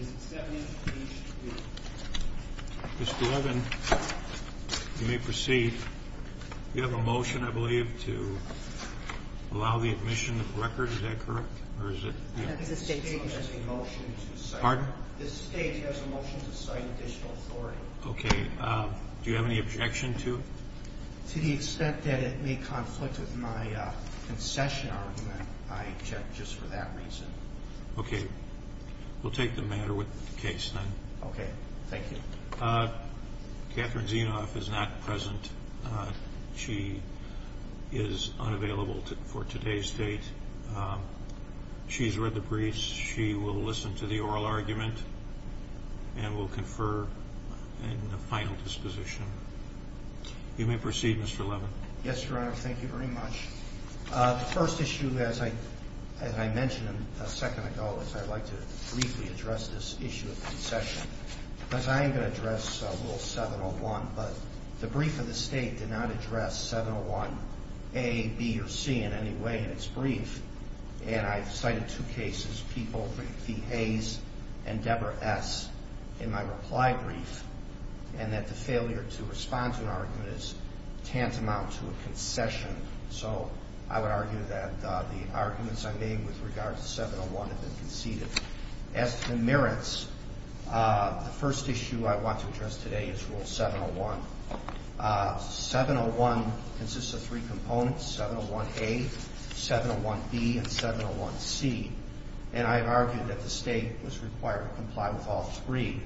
v. Davis Mr. Levin, you may proceed. You have a motion, I believe, to allow the admission of the record. Is that correct? The state has a motion to cite additional authority. Okay. Do you have any objection to it? To the extent that it may conflict with my concession argument, I object just for that reason. Okay. We'll take the matter with the case then. Okay. Thank you. Catherine Zinov is not present. She is unavailable for today's date. She's read the briefs. She will listen to the oral argument and will confer in a final disposition. You may proceed, Mr. Levin. Yes, Your Honor. Thank you very much. The first issue, as I mentioned a second ago, is I'd like to briefly address this issue of concession. Because I am going to address Rule 701. But the brief of the state did not address 701A, B, or C in any way in its brief. And I've cited two cases, people v. Hayes and Deborah S., in my reply brief. And that the failure to respond to an argument is tantamount to a concession. So I would argue that the arguments I made with regard to 701 have been conceded. As to the merits, the first issue I want to address today is Rule 701. 701 consists of three components, 701A, 701B, and 701C. And I've argued that the state was required to comply with all three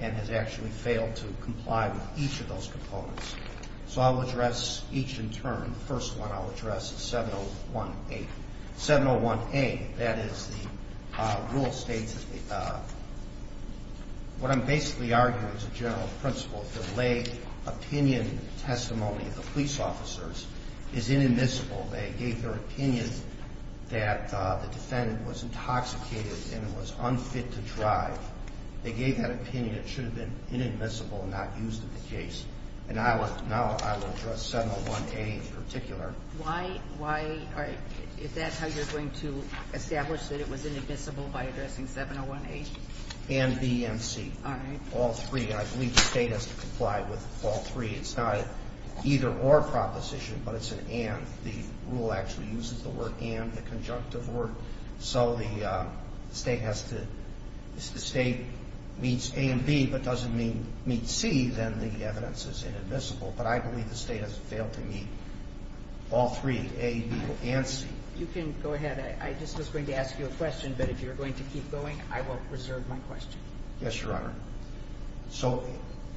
and has actually failed to comply with each of those components. So I'll address each in turn. The first one I'll address is 701A. 701A, that is the rule states what I'm basically arguing is a general principle. The lay opinion testimony of the police officers is inadmissible. They gave their opinion that the defendant was intoxicated and was unfit to drive. They gave that opinion. It should have been inadmissible and not used in the case. And now I will address 701A in particular. All right. If that's how you're going to establish that it was inadmissible by addressing 701A? And B and C. All right. All three. And I believe the state has to comply with all three. It's not an either-or proposition, but it's an and. The rule actually uses the word and, the conjunctive word. So if the state meets A and B but doesn't meet C, then the evidence is inadmissible. But I believe the state has failed to meet all three, A, B, and C. You can go ahead. I just was going to ask you a question, but if you're going to keep going, I will preserve my question. Yes, Your Honor. So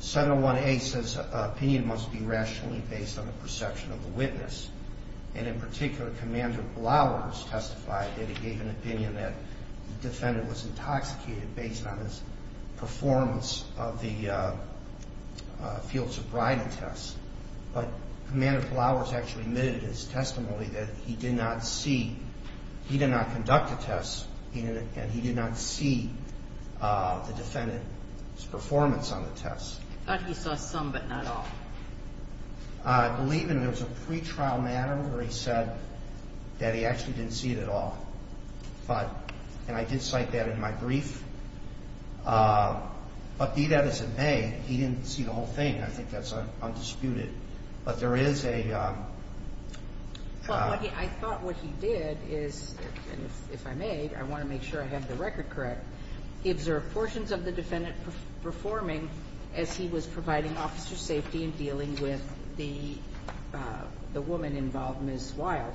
701A says opinion must be rationally based on the perception of the witness. And in particular, Commander Blauer has testified that he gave an opinion that the defendant was intoxicated based on his performance of the field sobriety test. But Commander Blauer has actually admitted in his testimony that he did not see, he did not conduct a test, and he did not see the defendant's performance on the test. I thought he saw some, but not all. I believe it was a pretrial matter where he said that he actually didn't see it at all. And I did cite that in my brief. But B, that is in A. He didn't see the whole thing. I think that's undisputed. But there is a... I thought what he did is, and if I may, I want to make sure I have the record correct, he observed portions of the defendant performing as he was providing officer safety and dealing with the woman involved, Ms. Wild.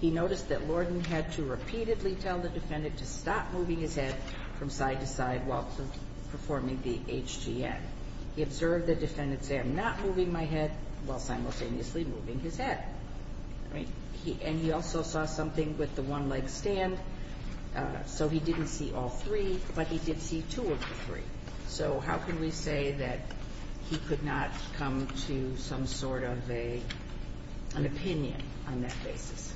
He noticed that Lorden had to repeatedly tell the defendant to stop moving his head from side to side while performing the HGM. He observed the defendant say, I'm not moving my head, while simultaneously moving his head. And he also saw something with the one-leg stand. So he didn't see all three, but he did see two of the three. So how can we say that he could not come to some sort of an opinion on that basis?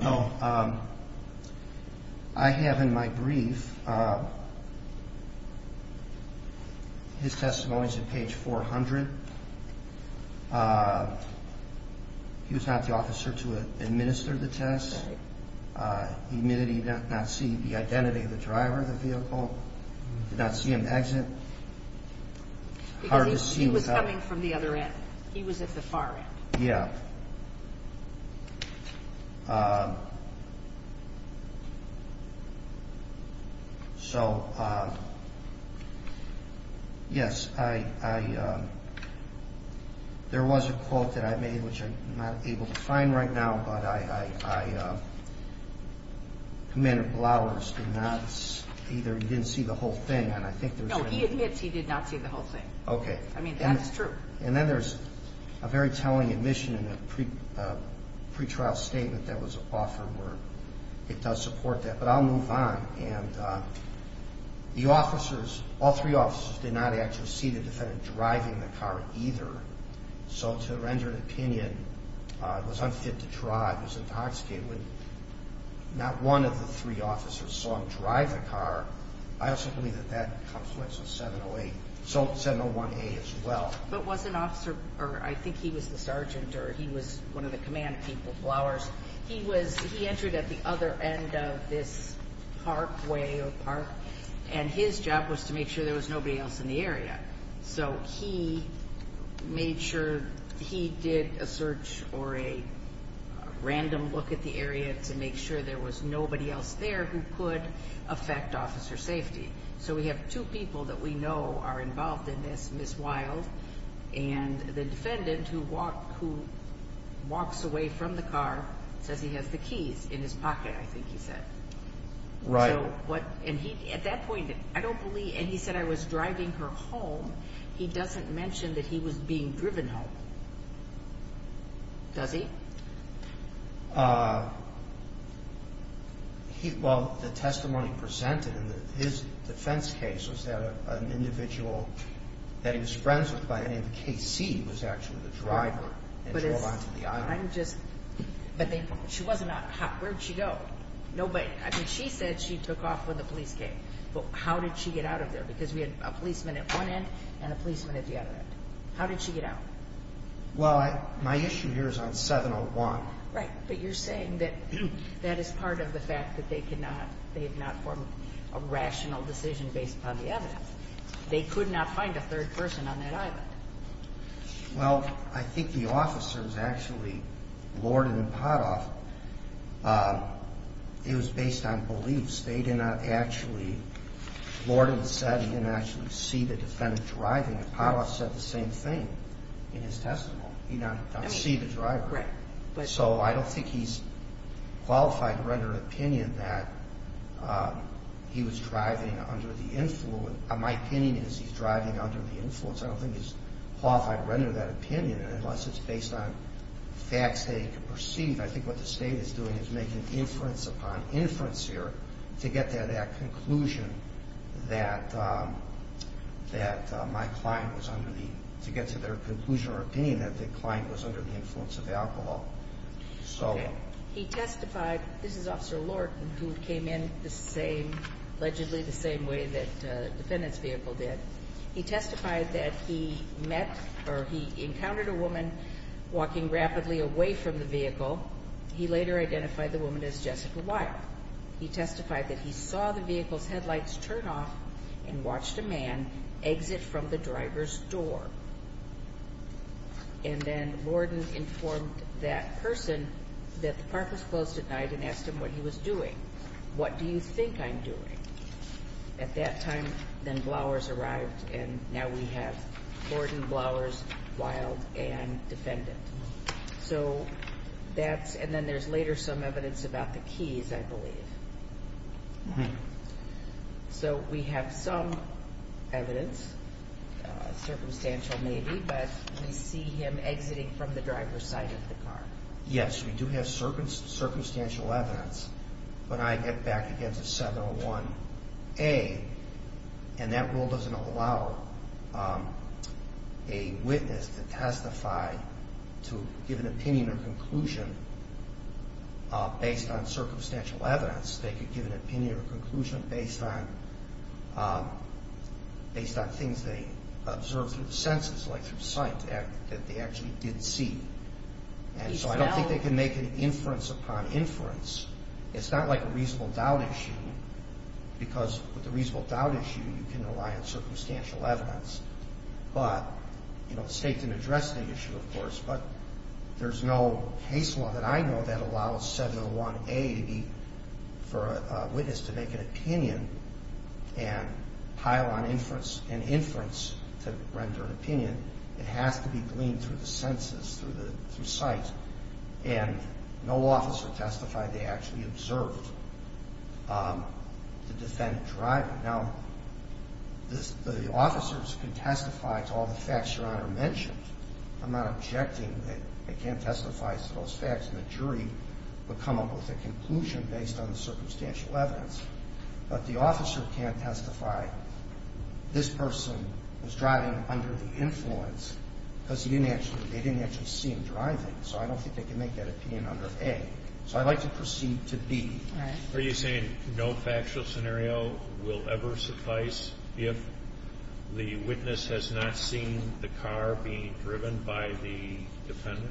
Well, I have in my brief. His testimony is at page 400. He was not the officer to administer the test. He did not see the identity of the driver of the vehicle. He did not see an exit. Because he was coming from the other end. Yeah. So, yes, I, there was a quote that I made, which I'm not able to find right now, but I, Commander Blauers did not, either he didn't see the whole thing, and I think there's. No, he admits he did not see the whole thing. Okay. I mean, that's true. And then there's a very telling admission in a pretrial statement that was offered where it does support that. But I'll move on. And the officers, all three officers, did not actually see the defendant driving the car, either. So to render an opinion, was unfit to drive, was intoxicated. When not one of the three officers saw him drive the car, I also believe that that comes with 701A as well. But was an officer, or I think he was the sergeant, or he was one of the command people, Blauers, he was, he entered at the other end of this parkway or park, and his job was to make sure there was nobody else in the area. So he made sure, he did a search or a random look at the area to make sure there was nobody else there who could affect officer safety. So we have two people that we know are involved in this, Ms. Wild, and the defendant who walked, who walks away from the car, says he has the keys in his pocket, I think he said. Right. So what, and he, at that point, I don't believe, and he said, I was driving her home. He doesn't mention that he was being driven home. Does he? He, well, the testimony presented in his defense case was that an individual that he was friends with by the name of K.C. was actually the driver and drove onto the island. I'm just, but she wasn't, where did she go? Nobody, I mean, she said she took off when the police came. Well, how did she get out of there? Because we had a policeman at one end and a policeman at the other end. How did she get out? Well, my issue here is on 701. Right, but you're saying that that is part of the fact that they could not, they had not formed a rational decision based upon the evidence. They could not find a third person on that island. Well, I think the officers actually, Lorden and Potthoff, it was based on beliefs. They did not actually, Lorden said he didn't actually see the defendant driving, and Potthoff said the same thing. In his testimony, he did not see the driver. So I don't think he's qualified to render an opinion that he was driving under the influence. My opinion is he's driving under the influence. I don't think he's qualified to render that opinion unless it's based on facts that he could perceive. I think what the state is doing is making inference upon inference here to get to that conclusion that my client was under the, to get to their conclusion or opinion that the client was under the influence of alcohol. He testified, this is Officer Lorden, who came in the same, allegedly the same way that the defendant's vehicle did. He testified that he met or he encountered a woman walking rapidly away from the vehicle. He later identified the woman as Jessica Wyatt. He testified that he saw the vehicle's headlights turn off and watched a man exit from the driver's door. And then Lorden informed that person that the park was closed at night and asked him what he was doing. What do you think I'm doing? At that time, then Blowers arrived, and now we have Lorden, Blowers, Wilde, and defendant. So that's, and then there's later some evidence about the keys, I believe. So we have some evidence, circumstantial maybe, but we see him exiting from the driver's side of the car. Yes, we do have circumstantial evidence. But I get back against a 701A, and that rule doesn't allow a witness to testify to give an opinion or conclusion based on circumstantial evidence. They could give an opinion or conclusion based on things they observed through the senses, like through sight, that they actually did see. And so I don't think they can make an inference upon inference. It's not like a reasonable doubt issue, because with a reasonable doubt issue, you can rely on circumstantial evidence. But, you know, the state can address the issue, of course, but there's no case law that I know that allows 701A to be, for a witness to make an opinion and pile on inference and inference to render an opinion. It has to be gleaned through the senses, through sight. And no officer testified they actually observed the defendant driver. Now, the officers can testify to all the facts Your Honor mentioned. I'm not objecting that they can't testify to those facts, and the jury would come up with a conclusion based on the circumstantial evidence. But the officer can't testify this person was driving under the influence because they didn't actually see him driving. So I don't think they can make that opinion under A. So I'd like to proceed to B. Are you saying no factual scenario will ever suffice if the witness has not seen the car being driven by the defendant?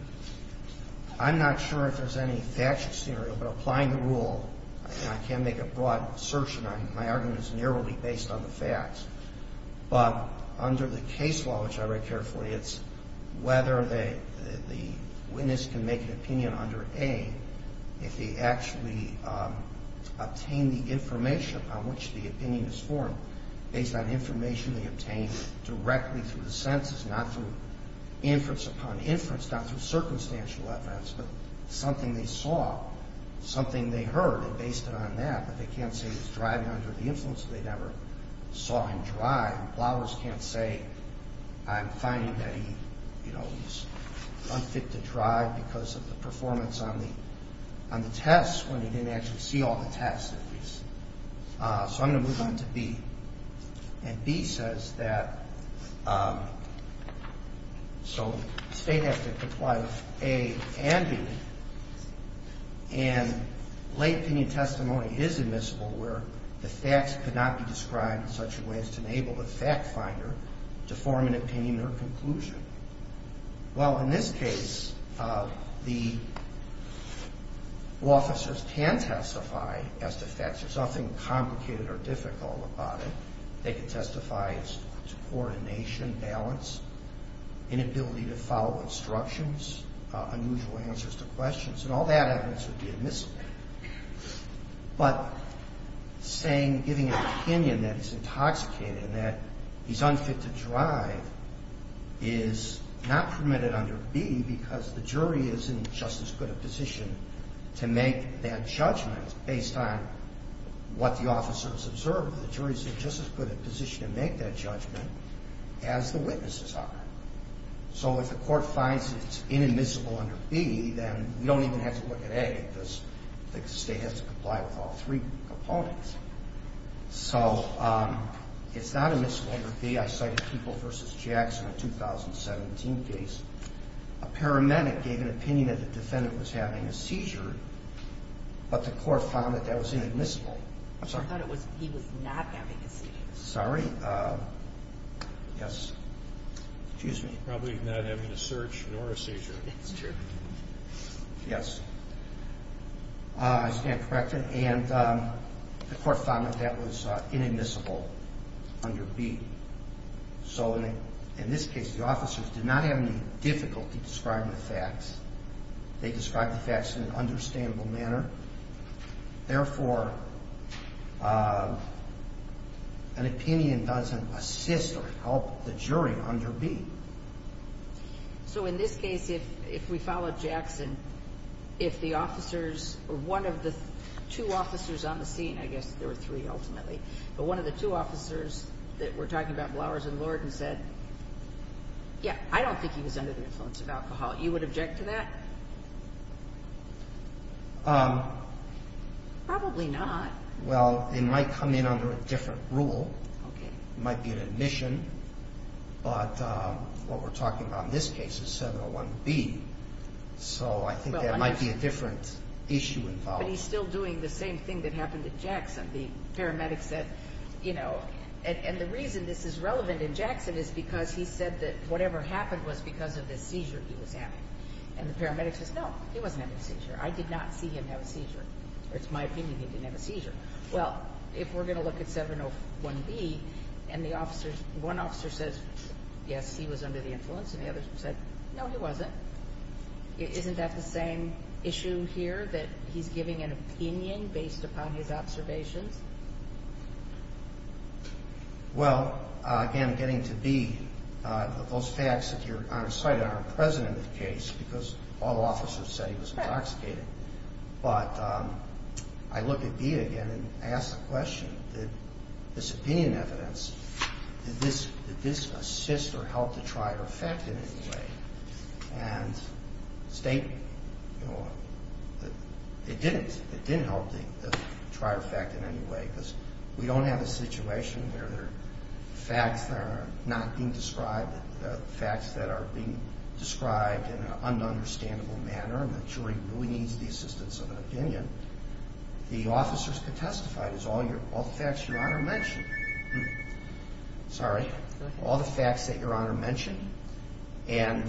I'm not sure if there's any factual scenario, but applying the rule, and I can't make a broad assertion. My argument is narrowly based on the facts. But under the case law, which I read carefully, it's whether the witness can make an opinion under A if they actually obtain the information upon which the opinion is formed based on information they obtained directly through the senses, not through inference upon inference, not through circumstantial evidence, but something they saw, something they heard, and based it on that. But they can't say he was driving under the influence or they never saw him drive. Lawyers can't say I'm finding that he, you know, he's unfit to drive because of the performance on the test when he didn't actually see all the tests at least. So I'm going to move on to B. And B says that, so the state has to comply with A and B. And late opinion testimony is admissible where the facts cannot be described in such a way as to enable the fact finder to form an opinion or conclusion. Well, in this case, the officers can testify as to facts. There's nothing complicated or difficult about it. They can testify to coordination, balance, inability to follow instructions, unusual answers to questions. And all that evidence would be admissible. But saying, giving an opinion that he's intoxicated and that he's unfit to drive is not permitted under B because the jury is in just as good a position to make that judgment based on what the officers observed. The jury is in just as good a position to make that judgment as the witnesses are. So if the court finds that it's inadmissible under B, then we don't even have to look at A because the state has to comply with all three components. So it's not admissible under B. I cited Peeble v. Jackson in a 2017 case. A paramedic gave an opinion that the defendant was having a seizure, but the court found that that was inadmissible. I'm sorry? I thought he was not having a seizure. Sorry? Yes. Excuse me. Probably not having a search nor a seizure. It's true. Yes. I stand corrected. And the court found that that was inadmissible under B. So in this case, the officers did not have any difficulty describing the facts. They described the facts in an understandable manner. Therefore, an opinion doesn't assist or help the jury under B. So in this case, if we follow Jackson, if the officers or one of the two officers on the scene, I guess there were three ultimately, but one of the two officers that were talking about Flowers and Lord and said, yeah, I don't think he was under the influence of alcohol, you would object to that? Probably not. Well, it might come in under a different rule. Okay. It might be an admission, but what we're talking about in this case is 701B, so I think there might be a different issue involved. But he's still doing the same thing that happened to Jackson. The paramedic said, you know, and the reason this is relevant in Jackson is because he said that whatever happened was because of the seizure he was having, and the paramedic says, no, he wasn't having a seizure. I did not see him have a seizure. It's my opinion he didn't have a seizure. Well, if we're going to look at 701B and one officer says, yes, he was under the influence, and the other said, no, he wasn't, isn't that the same issue here, that he's giving an opinion based upon his observations? Well, again, getting to B, those facts that are cited are present in the case because all officers said he was intoxicated. But I look at B again and ask the question, did this opinion evidence, did this assist or help to try or affect in any way? And state, you know, it didn't. It didn't help to try or affect in any way because we don't have a situation where there are facts that are not being described, facts that are being described in an un-understandable manner and the jury really needs the assistance of an opinion. The officers can testify to all the facts Your Honor mentioned. Sorry. All the facts that Your Honor mentioned and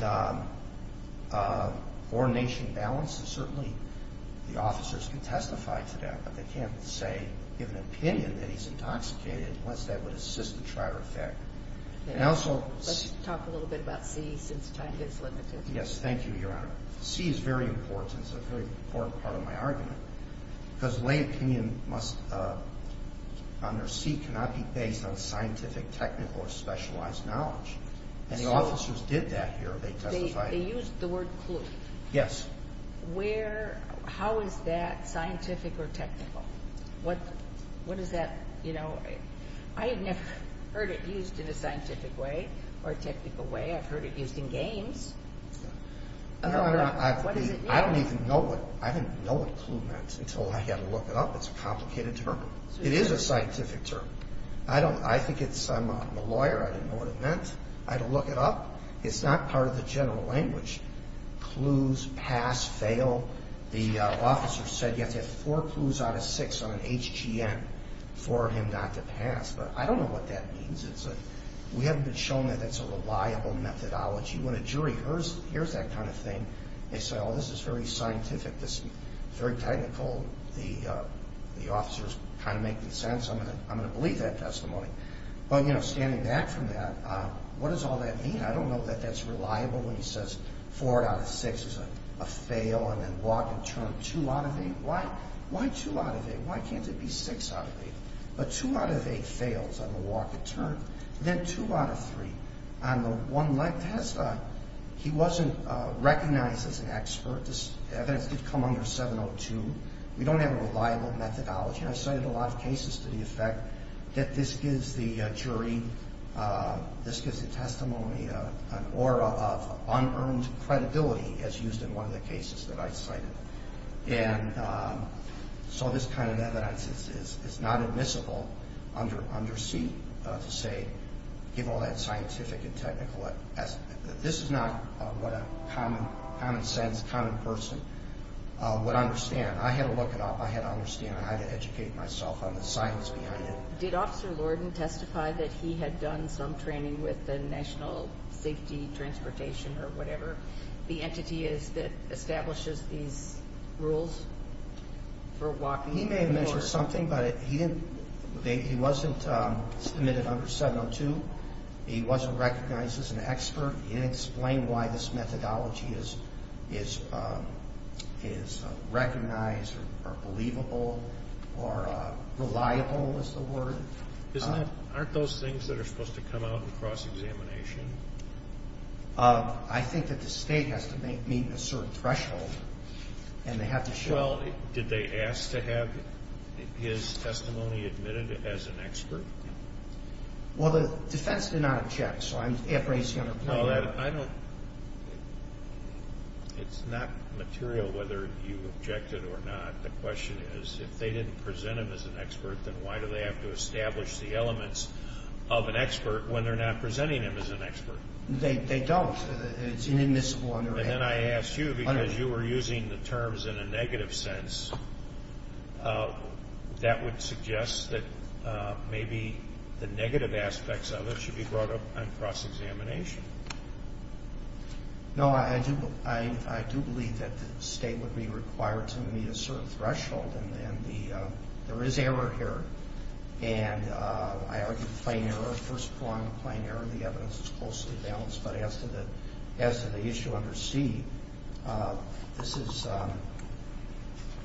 coordination and balance, certainly the officers can testify to that, but they can't say, give an opinion that he's intoxicated unless that would assist and try or affect. Let's talk a little bit about C since time gets limited. Yes, thank you, Your Honor. C is very important, it's a very important part of my argument because lay opinion must under C cannot be based on scientific, technical, or specialized knowledge. And the officers did that here. They used the word clue. Yes. Where, how is that scientific or technical? What is that, you know, I had never heard it used in a scientific way or a technical way. I've heard it used in games. No, I don't even know what clue meant until I had to look it up. It's a complicated term. It is a scientific term. I think it's, I'm a lawyer, I didn't know what it meant. I had to look it up. It's not part of the general language. Clues, pass, fail. The officer said you have to have four clues out of six on an HGM for him not to pass. But I don't know what that means. We haven't been shown that that's a reliable methodology. When a jury hears that kind of thing, they say, oh, this is very scientific, this is very technical, the officer is kind of making sense, I'm going to believe that testimony. But, you know, standing back from that, what does all that mean? I don't know that that's reliable when he says four out of six is a fail and then walk and turn two out of eight. Why two out of eight? Why can't it be six out of eight? But two out of eight fails on the walk and turn. Then two out of three on the one-legged test. He wasn't recognized as an expert. This evidence did come under 702. We don't have a reliable methodology. I've cited a lot of cases to the effect that this gives the jury, this gives the testimony an aura of unearned credibility, as used in one of the cases that I've cited. And so this kind of evidence is not admissible under C, to say give all that scientific and technical. This is not what a common sense, common person would understand. I had to look it up. I had to understand how to educate myself on the science behind it. Did Officer Lorden testify that he had done some training with the National Safety Transportation, or whatever, the entity that establishes these rules for walking? He may have mentioned something, but he wasn't submitted under 702. He wasn't recognized as an expert. He didn't explain why this methodology is recognized or believable or reliable is the word. Aren't those things that are supposed to come out in cross-examination? I think that the State has to meet a certain threshold, and they have to show it. Did they ask to have his testimony admitted as an expert? Well, the defense did not object, so I'm appraising it. It's not material whether you objected or not. The question is if they didn't present him as an expert, then why do they have to establish the elements of an expert when they're not presenting him as an expert? They don't. It's inadmissible under A. And then I asked you because you were using the terms in a negative sense. That would suggest that maybe the negative aspects of it should be brought up on cross-examination. No, I do believe that the State would be required to meet a certain threshold, and there is error here, and I argue plain error. First of all, I'm a plain error. The evidence is closely balanced. But as to the issue under C, this is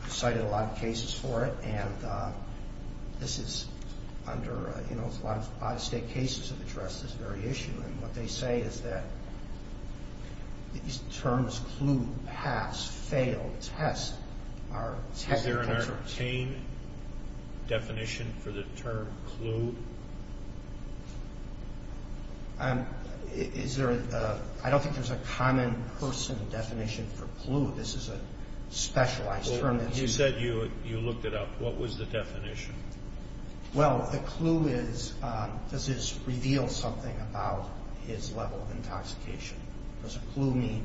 cited in a lot of cases for it, and this is under a lot of State cases that address this very issue. And what they say is that these terms, clue, pass, fail, test, are technical terms. Is there an entertain definition for the term clue? I don't think there's a common person definition for clue. This is a specialized term. You said you looked it up. What was the definition? Well, the clue is does this reveal something about his level of intoxication? Does a clue mean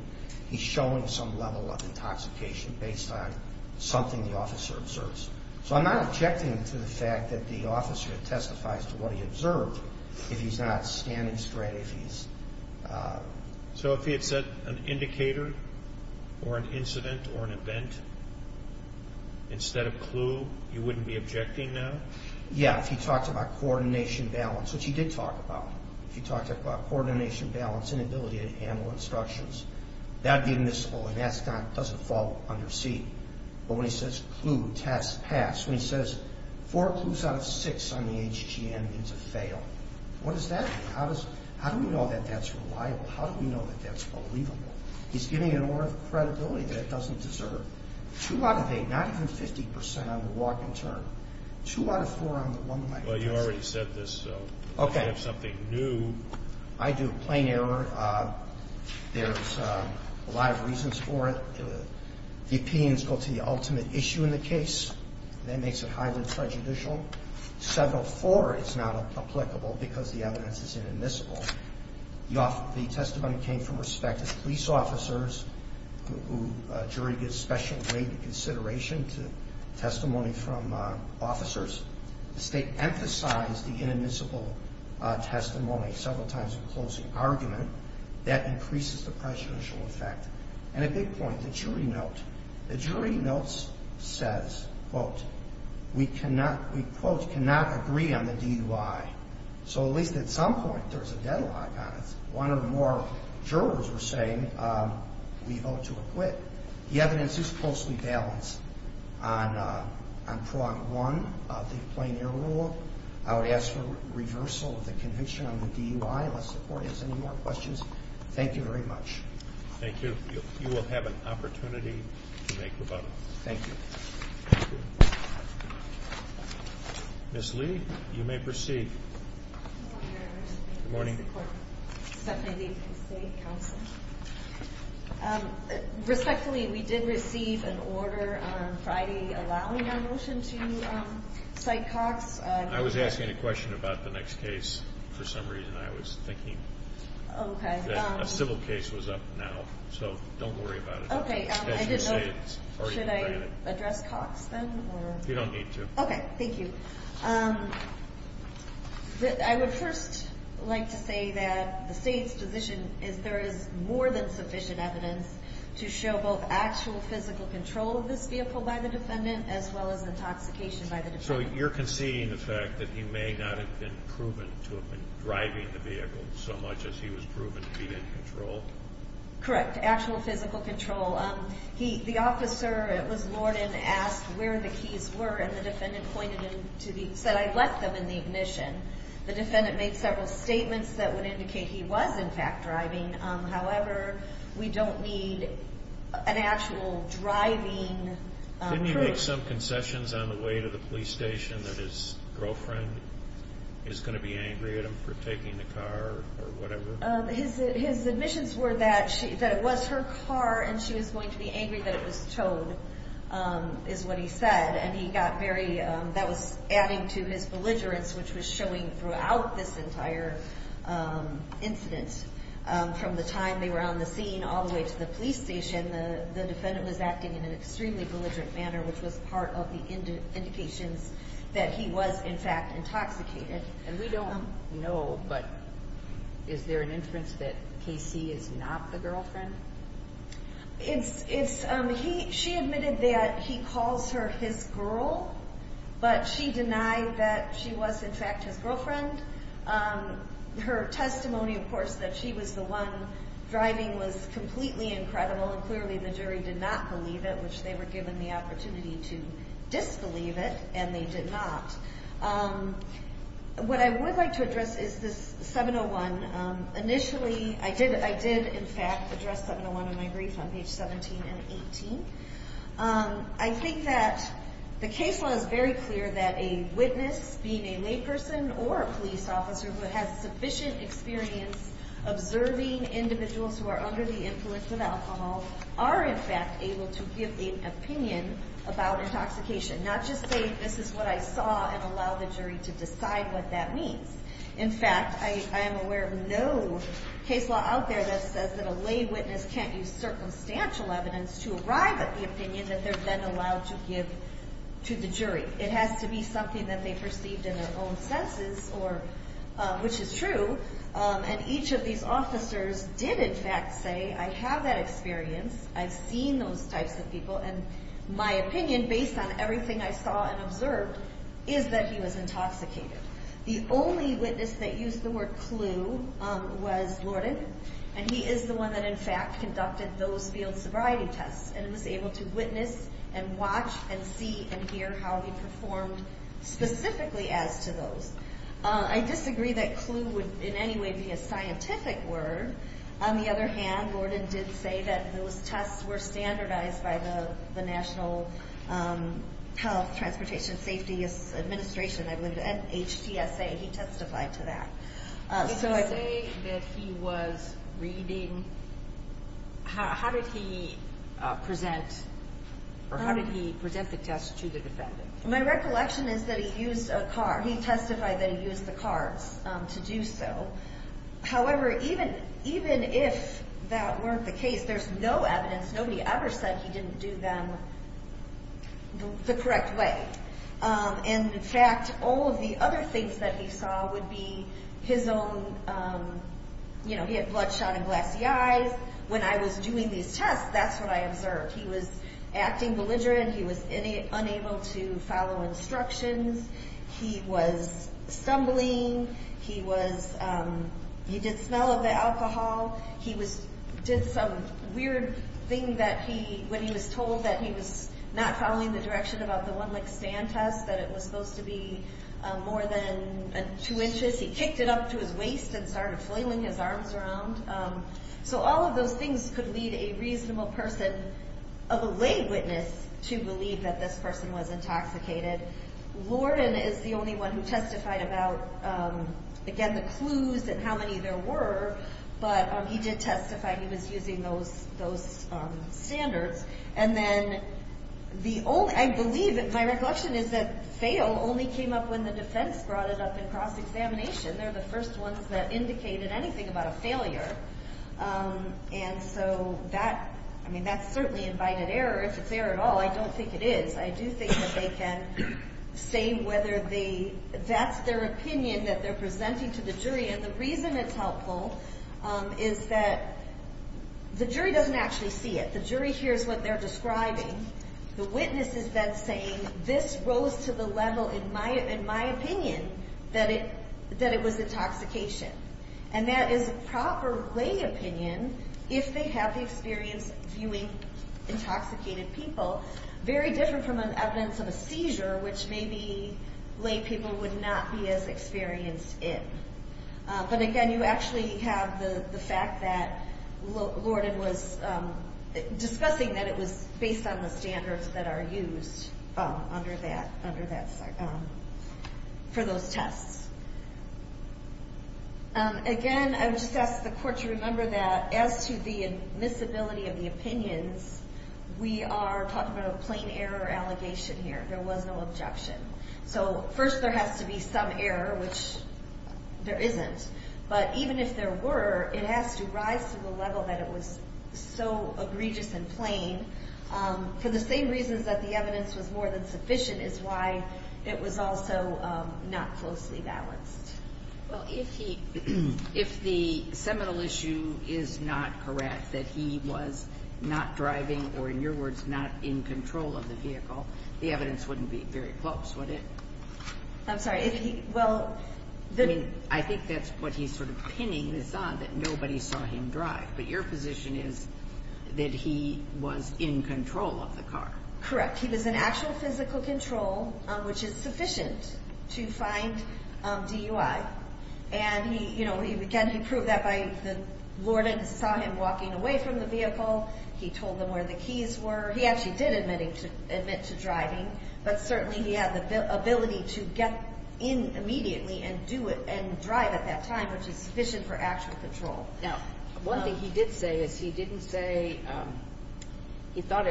he's showing some level of intoxication based on something the officer observes? So I'm not objecting to the fact that the officer testifies to what he observed if he's not standing straight, if he's... So if he had said an indicator or an incident or an event instead of clue, you wouldn't be objecting now? Yeah, if he talked about coordination balance, which he did talk about. If he talked about coordination balance and ability to handle instructions, that would be admissible, and that doesn't fall under C. But when he says clue, test, pass, when he says four clues out of six on the HGM means a fail, what does that mean? How do we know that that's reliable? How do we know that that's believable? He's giving an order of credibility that it doesn't deserve. Two out of eight, not even 50% on the walk-in term, two out of four on the one-way test. Well, you already said this, so you may have something new. I do. Plain error. There's a lot of reasons for it. The opinions go to the ultimate issue in the case. That makes it highly prejudicial. Seven of four is not applicable because the evidence is inadmissible. The testimony came from respected police officers who a jury gives special weight and consideration to testimony from officers. The State emphasized the inadmissible testimony several times in closing argument. That increases the prejudicial effect. And a big point, the jury note. The jury note says, quote, we, quote, cannot agree on the DUI. So at least at some point there's a deadlock on it. One or more jurors were saying we vote to acquit. The evidence is closely balanced on prong one of the plain error rule. I would ask for reversal of the conviction on the DUI unless the Court has any more questions. Thank you very much. Thank you. You will have an opportunity to make rebuttals. Thank you. Thank you. Ms. Lee, you may proceed. Good morning, Your Honor. Good morning. This is Stephanie Lee from the State Council. Respectfully, we did receive an order on Friday allowing our motion to cite Cox. I was asking a question about the next case. For some reason I was thinking that a civil case was up now. So don't worry about it. Okay. I didn't know. Should I address Cox then? You don't need to. Okay. Thank you. I would first like to say that the State's position is there is more than sufficient evidence to show both actual physical control of this vehicle by the defendant as well as intoxication by the defendant. So you're conceding the fact that he may not have been proven to have been driving the vehicle so much as he was proven to be in control? Correct. Actual physical control. The officer, it was Lornan, asked where the keys were, and the defendant pointed them to the— said, I left them in the ignition. The defendant made several statements that would indicate he was, in fact, driving. However, we don't need an actual driving proof. Didn't he make some concessions on the way to the police station that his girlfriend is going to be angry at him for taking the car or whatever? His admissions were that it was her car and she was going to be angry that it was towed, is what he said. And he got very—that was adding to his belligerence, which was showing throughout this entire incident. From the time they were on the scene all the way to the police station, the defendant was acting in an extremely belligerent manner, which was part of the indications that he was, in fact, intoxicated. And we don't know, but is there an inference that Casey is not the girlfriend? It's—she admitted that he calls her his girl, but she denied that she was, in fact, his girlfriend. Her testimony, of course, that she was the one driving was completely incredible, and clearly the jury did not believe it, which they were given the opportunity to disbelieve it, and they did not. What I would like to address is this 701. Initially, I did, in fact, address 701 in my brief on page 17 and 18. I think that the case law is very clear that a witness, being a layperson or a police officer, who has sufficient experience observing individuals who are under the influence of alcohol, are, in fact, able to give an opinion about intoxication, not just say, this is what I saw, and allow the jury to decide what that means. In fact, I am aware of no case law out there that says that a lay witness can't use circumstantial evidence to arrive at the opinion that they're then allowed to give to the jury. It has to be something that they perceived in their own senses, which is true, and each of these officers did, in fact, say, I have that experience, I've seen those types of people, and my opinion, based on everything I saw and observed, is that he was intoxicated. The only witness that used the word clue was Lorden, and he is the one that, in fact, conducted those field sobriety tests, and was able to witness and watch and see and hear how he performed specifically as to those. I disagree that clue would in any way be a scientific word. On the other hand, Lorden did say that those tests were standardized by the National Health, Transportation, Safety Administration, I believe, HTSA. He testified to that. If you say that he was reading, how did he present the test to the defendant? My recollection is that he used a card. He testified that he used the cards to do so. However, even if that weren't the case, there's no evidence, nobody ever said he didn't do them the correct way. In fact, all of the other things that he saw would be his own, you know, he had bloodshot and glassy eyes. When I was doing these tests, that's what I observed. He was acting belligerent. He was unable to follow instructions. He was stumbling. He did smell of the alcohol. He did some weird thing when he was told that he was not following the direction about the one-legged stand test, that it was supposed to be more than two inches. He kicked it up to his waist and started flailing his arms around. So all of those things could lead a reasonable person of a lay witness to believe that this person was intoxicated. Lorden is the only one who testified about, again, the clues and how many there were, but he did testify he was using those standards. And then the only, I believe, my recollection is that fail only came up when the defense brought it up in cross-examination. They're the first ones that indicated anything about a failure. And so that, I mean, that's certainly invited error. If it's error at all, I don't think it is. I do think that they can say whether they, that's their opinion that they're presenting to the jury. And the reason it's helpful is that the jury doesn't actually see it. The jury hears what they're describing. The witness is then saying, this rose to the level, in my opinion, that it was intoxication. And that is proper lay opinion if they have the experience viewing intoxicated people very different from an evidence of a seizure, which maybe lay people would not be as experienced in. But again, you actually have the fact that Lorden was discussing that it was based on the standards that are used under that, for those tests. Again, I would just ask the court to remember that as to the admissibility of the opinions, we are talking about a plain error allegation here. There was no objection. So first there has to be some error, which there isn't. But even if there were, it has to rise to the level that it was so egregious and plain. For the same reasons that the evidence was more than sufficient is why it was also not closely balanced. Well, if the seminal issue is not correct, that he was not driving or, in your words, not in control of the vehicle, the evidence wouldn't be very close, would it? I'm sorry. I think that's what he's sort of pinning this on, that nobody saw him drive. But your position is that he was in control of the car. Correct. He was in actual physical control, which is sufficient to find DUI. And, again, he proved that by Lorden saw him walking away from the vehicle. He told them where the keys were. He actually did admit to driving, but certainly he had the ability to get in immediately and drive at that time, which is sufficient for actual control. Now, one thing he did say is he didn't say he thought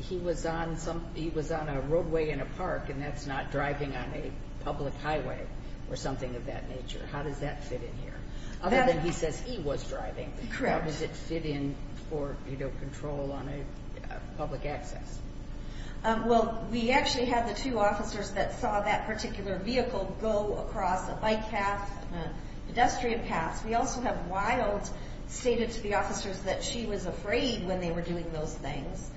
he was on a roadway in a park and that's not driving on a public highway or something of that nature. How does that fit in here? Other than he says he was driving. Correct. How does it fit in for control on a public access? Well, we actually had the two officers that saw that particular vehicle go across a bike path, a pedestrian path. We also have Wild stated to the officers that she was afraid when they were doing those things.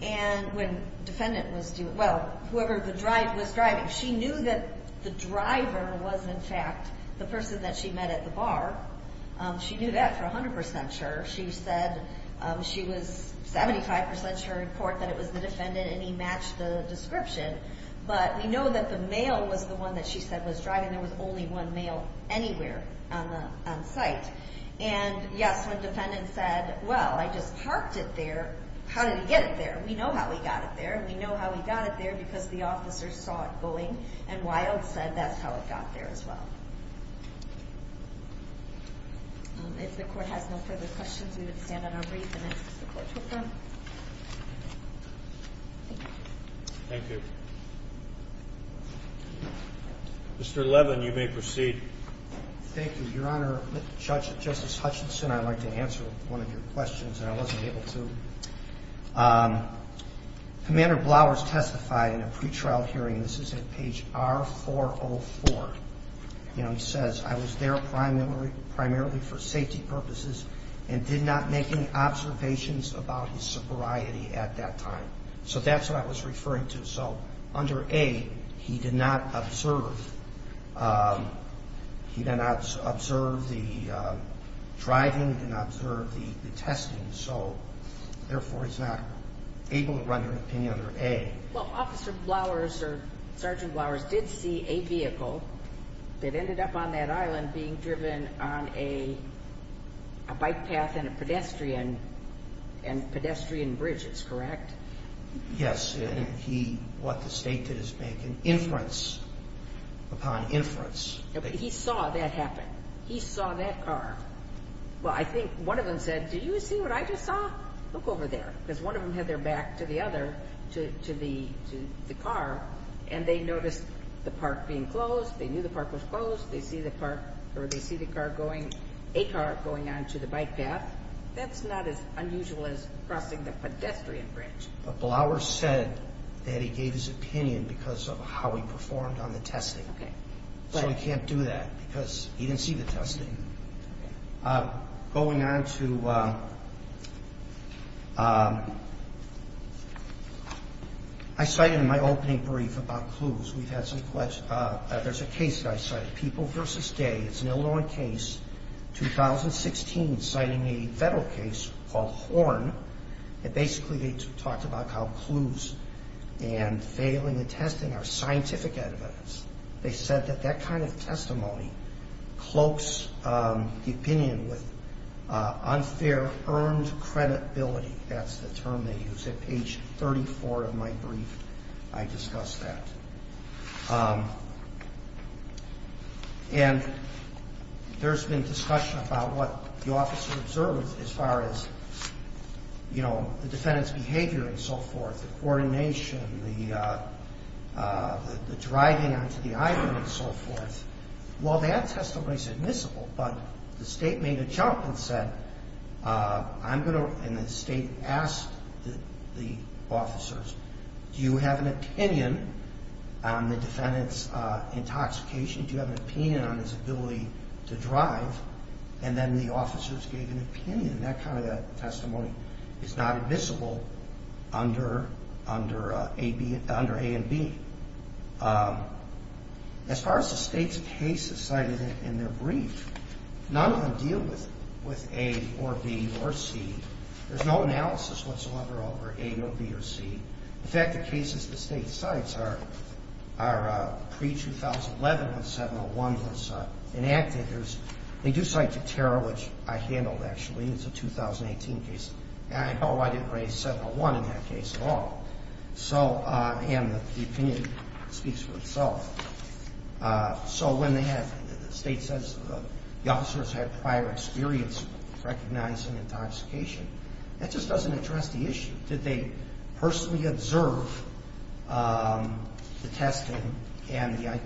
And when the defendant was doing it, well, whoever was driving, she knew that the driver was, in fact, the person that she met at the bar. She knew that for 100% sure. She said she was 75% sure in court that it was the defendant, and he matched the description. But we know that the male was the one that she said was driving. There was only one male anywhere on site. And, yes, when the defendant said, well, I just parked it there. How did he get it there? We know how he got it there. We know how he got it there because the officers saw it going, and Wild said that's how it got there as well. If the court has no further questions, we would stand on our brief and ask the court to adjourn. Thank you. Mr. Levin, you may proceed. Thank you, Your Honor. Justice Hutchinson, I'd like to answer one of your questions, and I wasn't able to. Commander Blauer has testified in a pretrial hearing, and this is at page R404. You know, he says, I was there primarily for safety purposes and did not make any observations about his sobriety at that time. So that's what I was referring to. So under A, he did not observe. He did not observe the driving. He did not observe the testing. So, therefore, he's not able to render an opinion under A. Well, Officer Blauer or Sergeant Blauer did see a vehicle that ended up on that island being driven on a bike path and pedestrian bridges, correct? Yes, and he brought the state to his bank, and inference upon inference. He saw that happen. He saw that car. Well, I think one of them said, do you see what I just saw? Look over there, because one of them had their back to the other, to the car, and they noticed the park being closed. They knew the park was closed. They see the car going, a car going on to the bike path. That's not as unusual as crossing the pedestrian bridge. But Blauer said that he gave his opinion because of how he performed on the testing. Okay. So he can't do that because he didn't see the testing. Okay. Going on to, I cited in my opening brief about clues. We've had some questions. There's a case that I cited, People v. Day. It's an Illinois case, 2016, citing a federal case called Horn. And basically they talked about how clues and failing the testing are scientific evidence. They said that that kind of testimony cloaks the opinion with unfair earned credibility. That's the term they use. At page 34 of my brief, I discuss that. And there's been discussion about what the officer observed as far as, you know, the defendant's behavior and so forth, the coordination, the driving onto the island and so forth. Well, that testimony is admissible. But the state made a jump and said, I'm going to, and the state asked the officers, do you have an opinion on the defendant's intoxication? Do you have an opinion on his ability to drive? And then the officers gave an opinion. And that kind of testimony is not admissible under A and B. As far as the state's cases cited in their brief, none of them deal with A or B or C. There's no analysis whatsoever over A or B or C. In fact, the cases the state cites are pre-2011 when 701 was enacted. They do cite Teterra, which I handled, actually. It's a 2018 case. And I know I didn't raise 701 in that case at all. And the opinion speaks for itself. So when the state says the officers had prior experience recognizing intoxication, that just doesn't address the issue. Did they personally observe the testing and the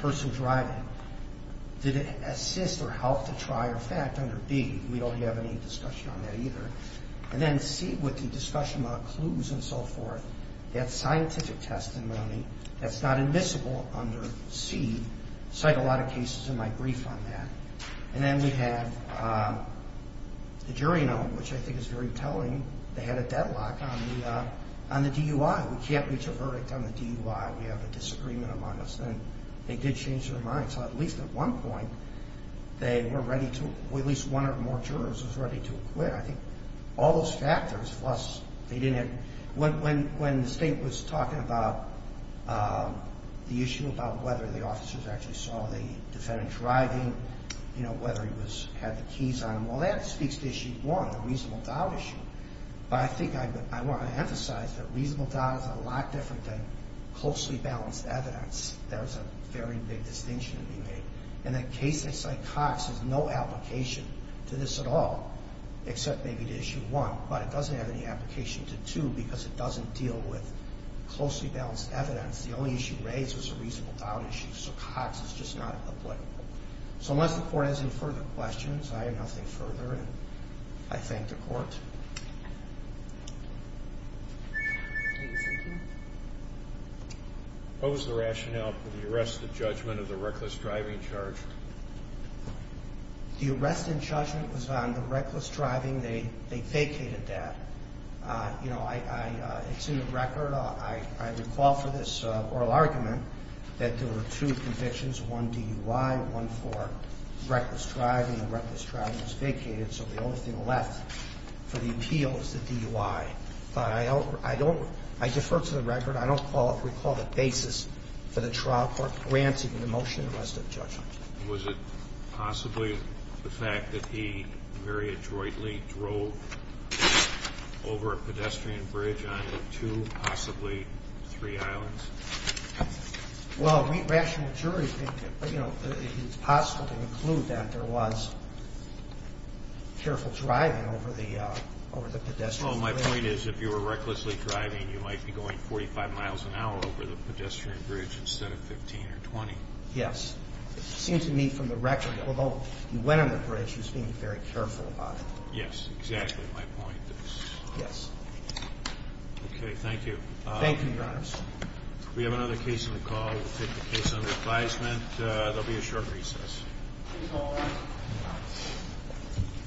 person driving? Did it assist or help to try or fact under B? We don't have any discussion on that either. And then C, with the discussion about clues and so forth, that's scientific testimony. That's not admissible under C. I cite a lot of cases in my brief on that. And then we have the jury note, which I think is very telling. They had a deadlock on the DUI. We can't reach a verdict on the DUI. We have a disagreement among us. And they did change their mind. So at least at one point, they were ready to, at least one or more jurors was ready to acquit. I think all those factors, plus they didn't have, when the state was talking about the issue about whether the officers actually saw the defendant driving, you know, whether he had the keys on him, well, that speaks to issue one, the reasonable doubt issue. But I think I want to emphasize that reasonable doubt is a lot different than closely balanced evidence. There's a very big distinction to be made. In a case like Cox, there's no application to this at all, except maybe to issue one. But it doesn't have any application to two because it doesn't deal with closely balanced evidence. The only issue raised was a reasonable doubt issue. So Cox is just not applicable. So unless the court has any further questions, I have nothing further, and I thank the court. What was the rationale for the arrest and judgment of the reckless driving charge? The arrest and judgment was on the reckless driving. They vacated that. You know, it's in the record. I recall for this oral argument that there were two convictions, one DUI, one for reckless driving. The reckless driving was vacated, so the only thing left for the appeal is the DUI. But I don't – I defer to the record. I don't recall the basis for the trial court granting the motion arrest and judgment. Was it possibly the fact that he very adroitly drove over a pedestrian bridge onto two, possibly three islands? Well, the rational jury, you know, it's possible to conclude that there was careful driving over the pedestrian bridge. Well, my point is if you were recklessly driving, you might be going 45 miles an hour over the pedestrian bridge instead of 15 or 20. Yes. It seemed to me from the record, although he went on the bridge, he was being very careful about it. Yes, exactly my point is. Yes. Okay, thank you. Thank you, Your Honors. We have another case on the call. We'll take the case under advisement. There will be a short recess.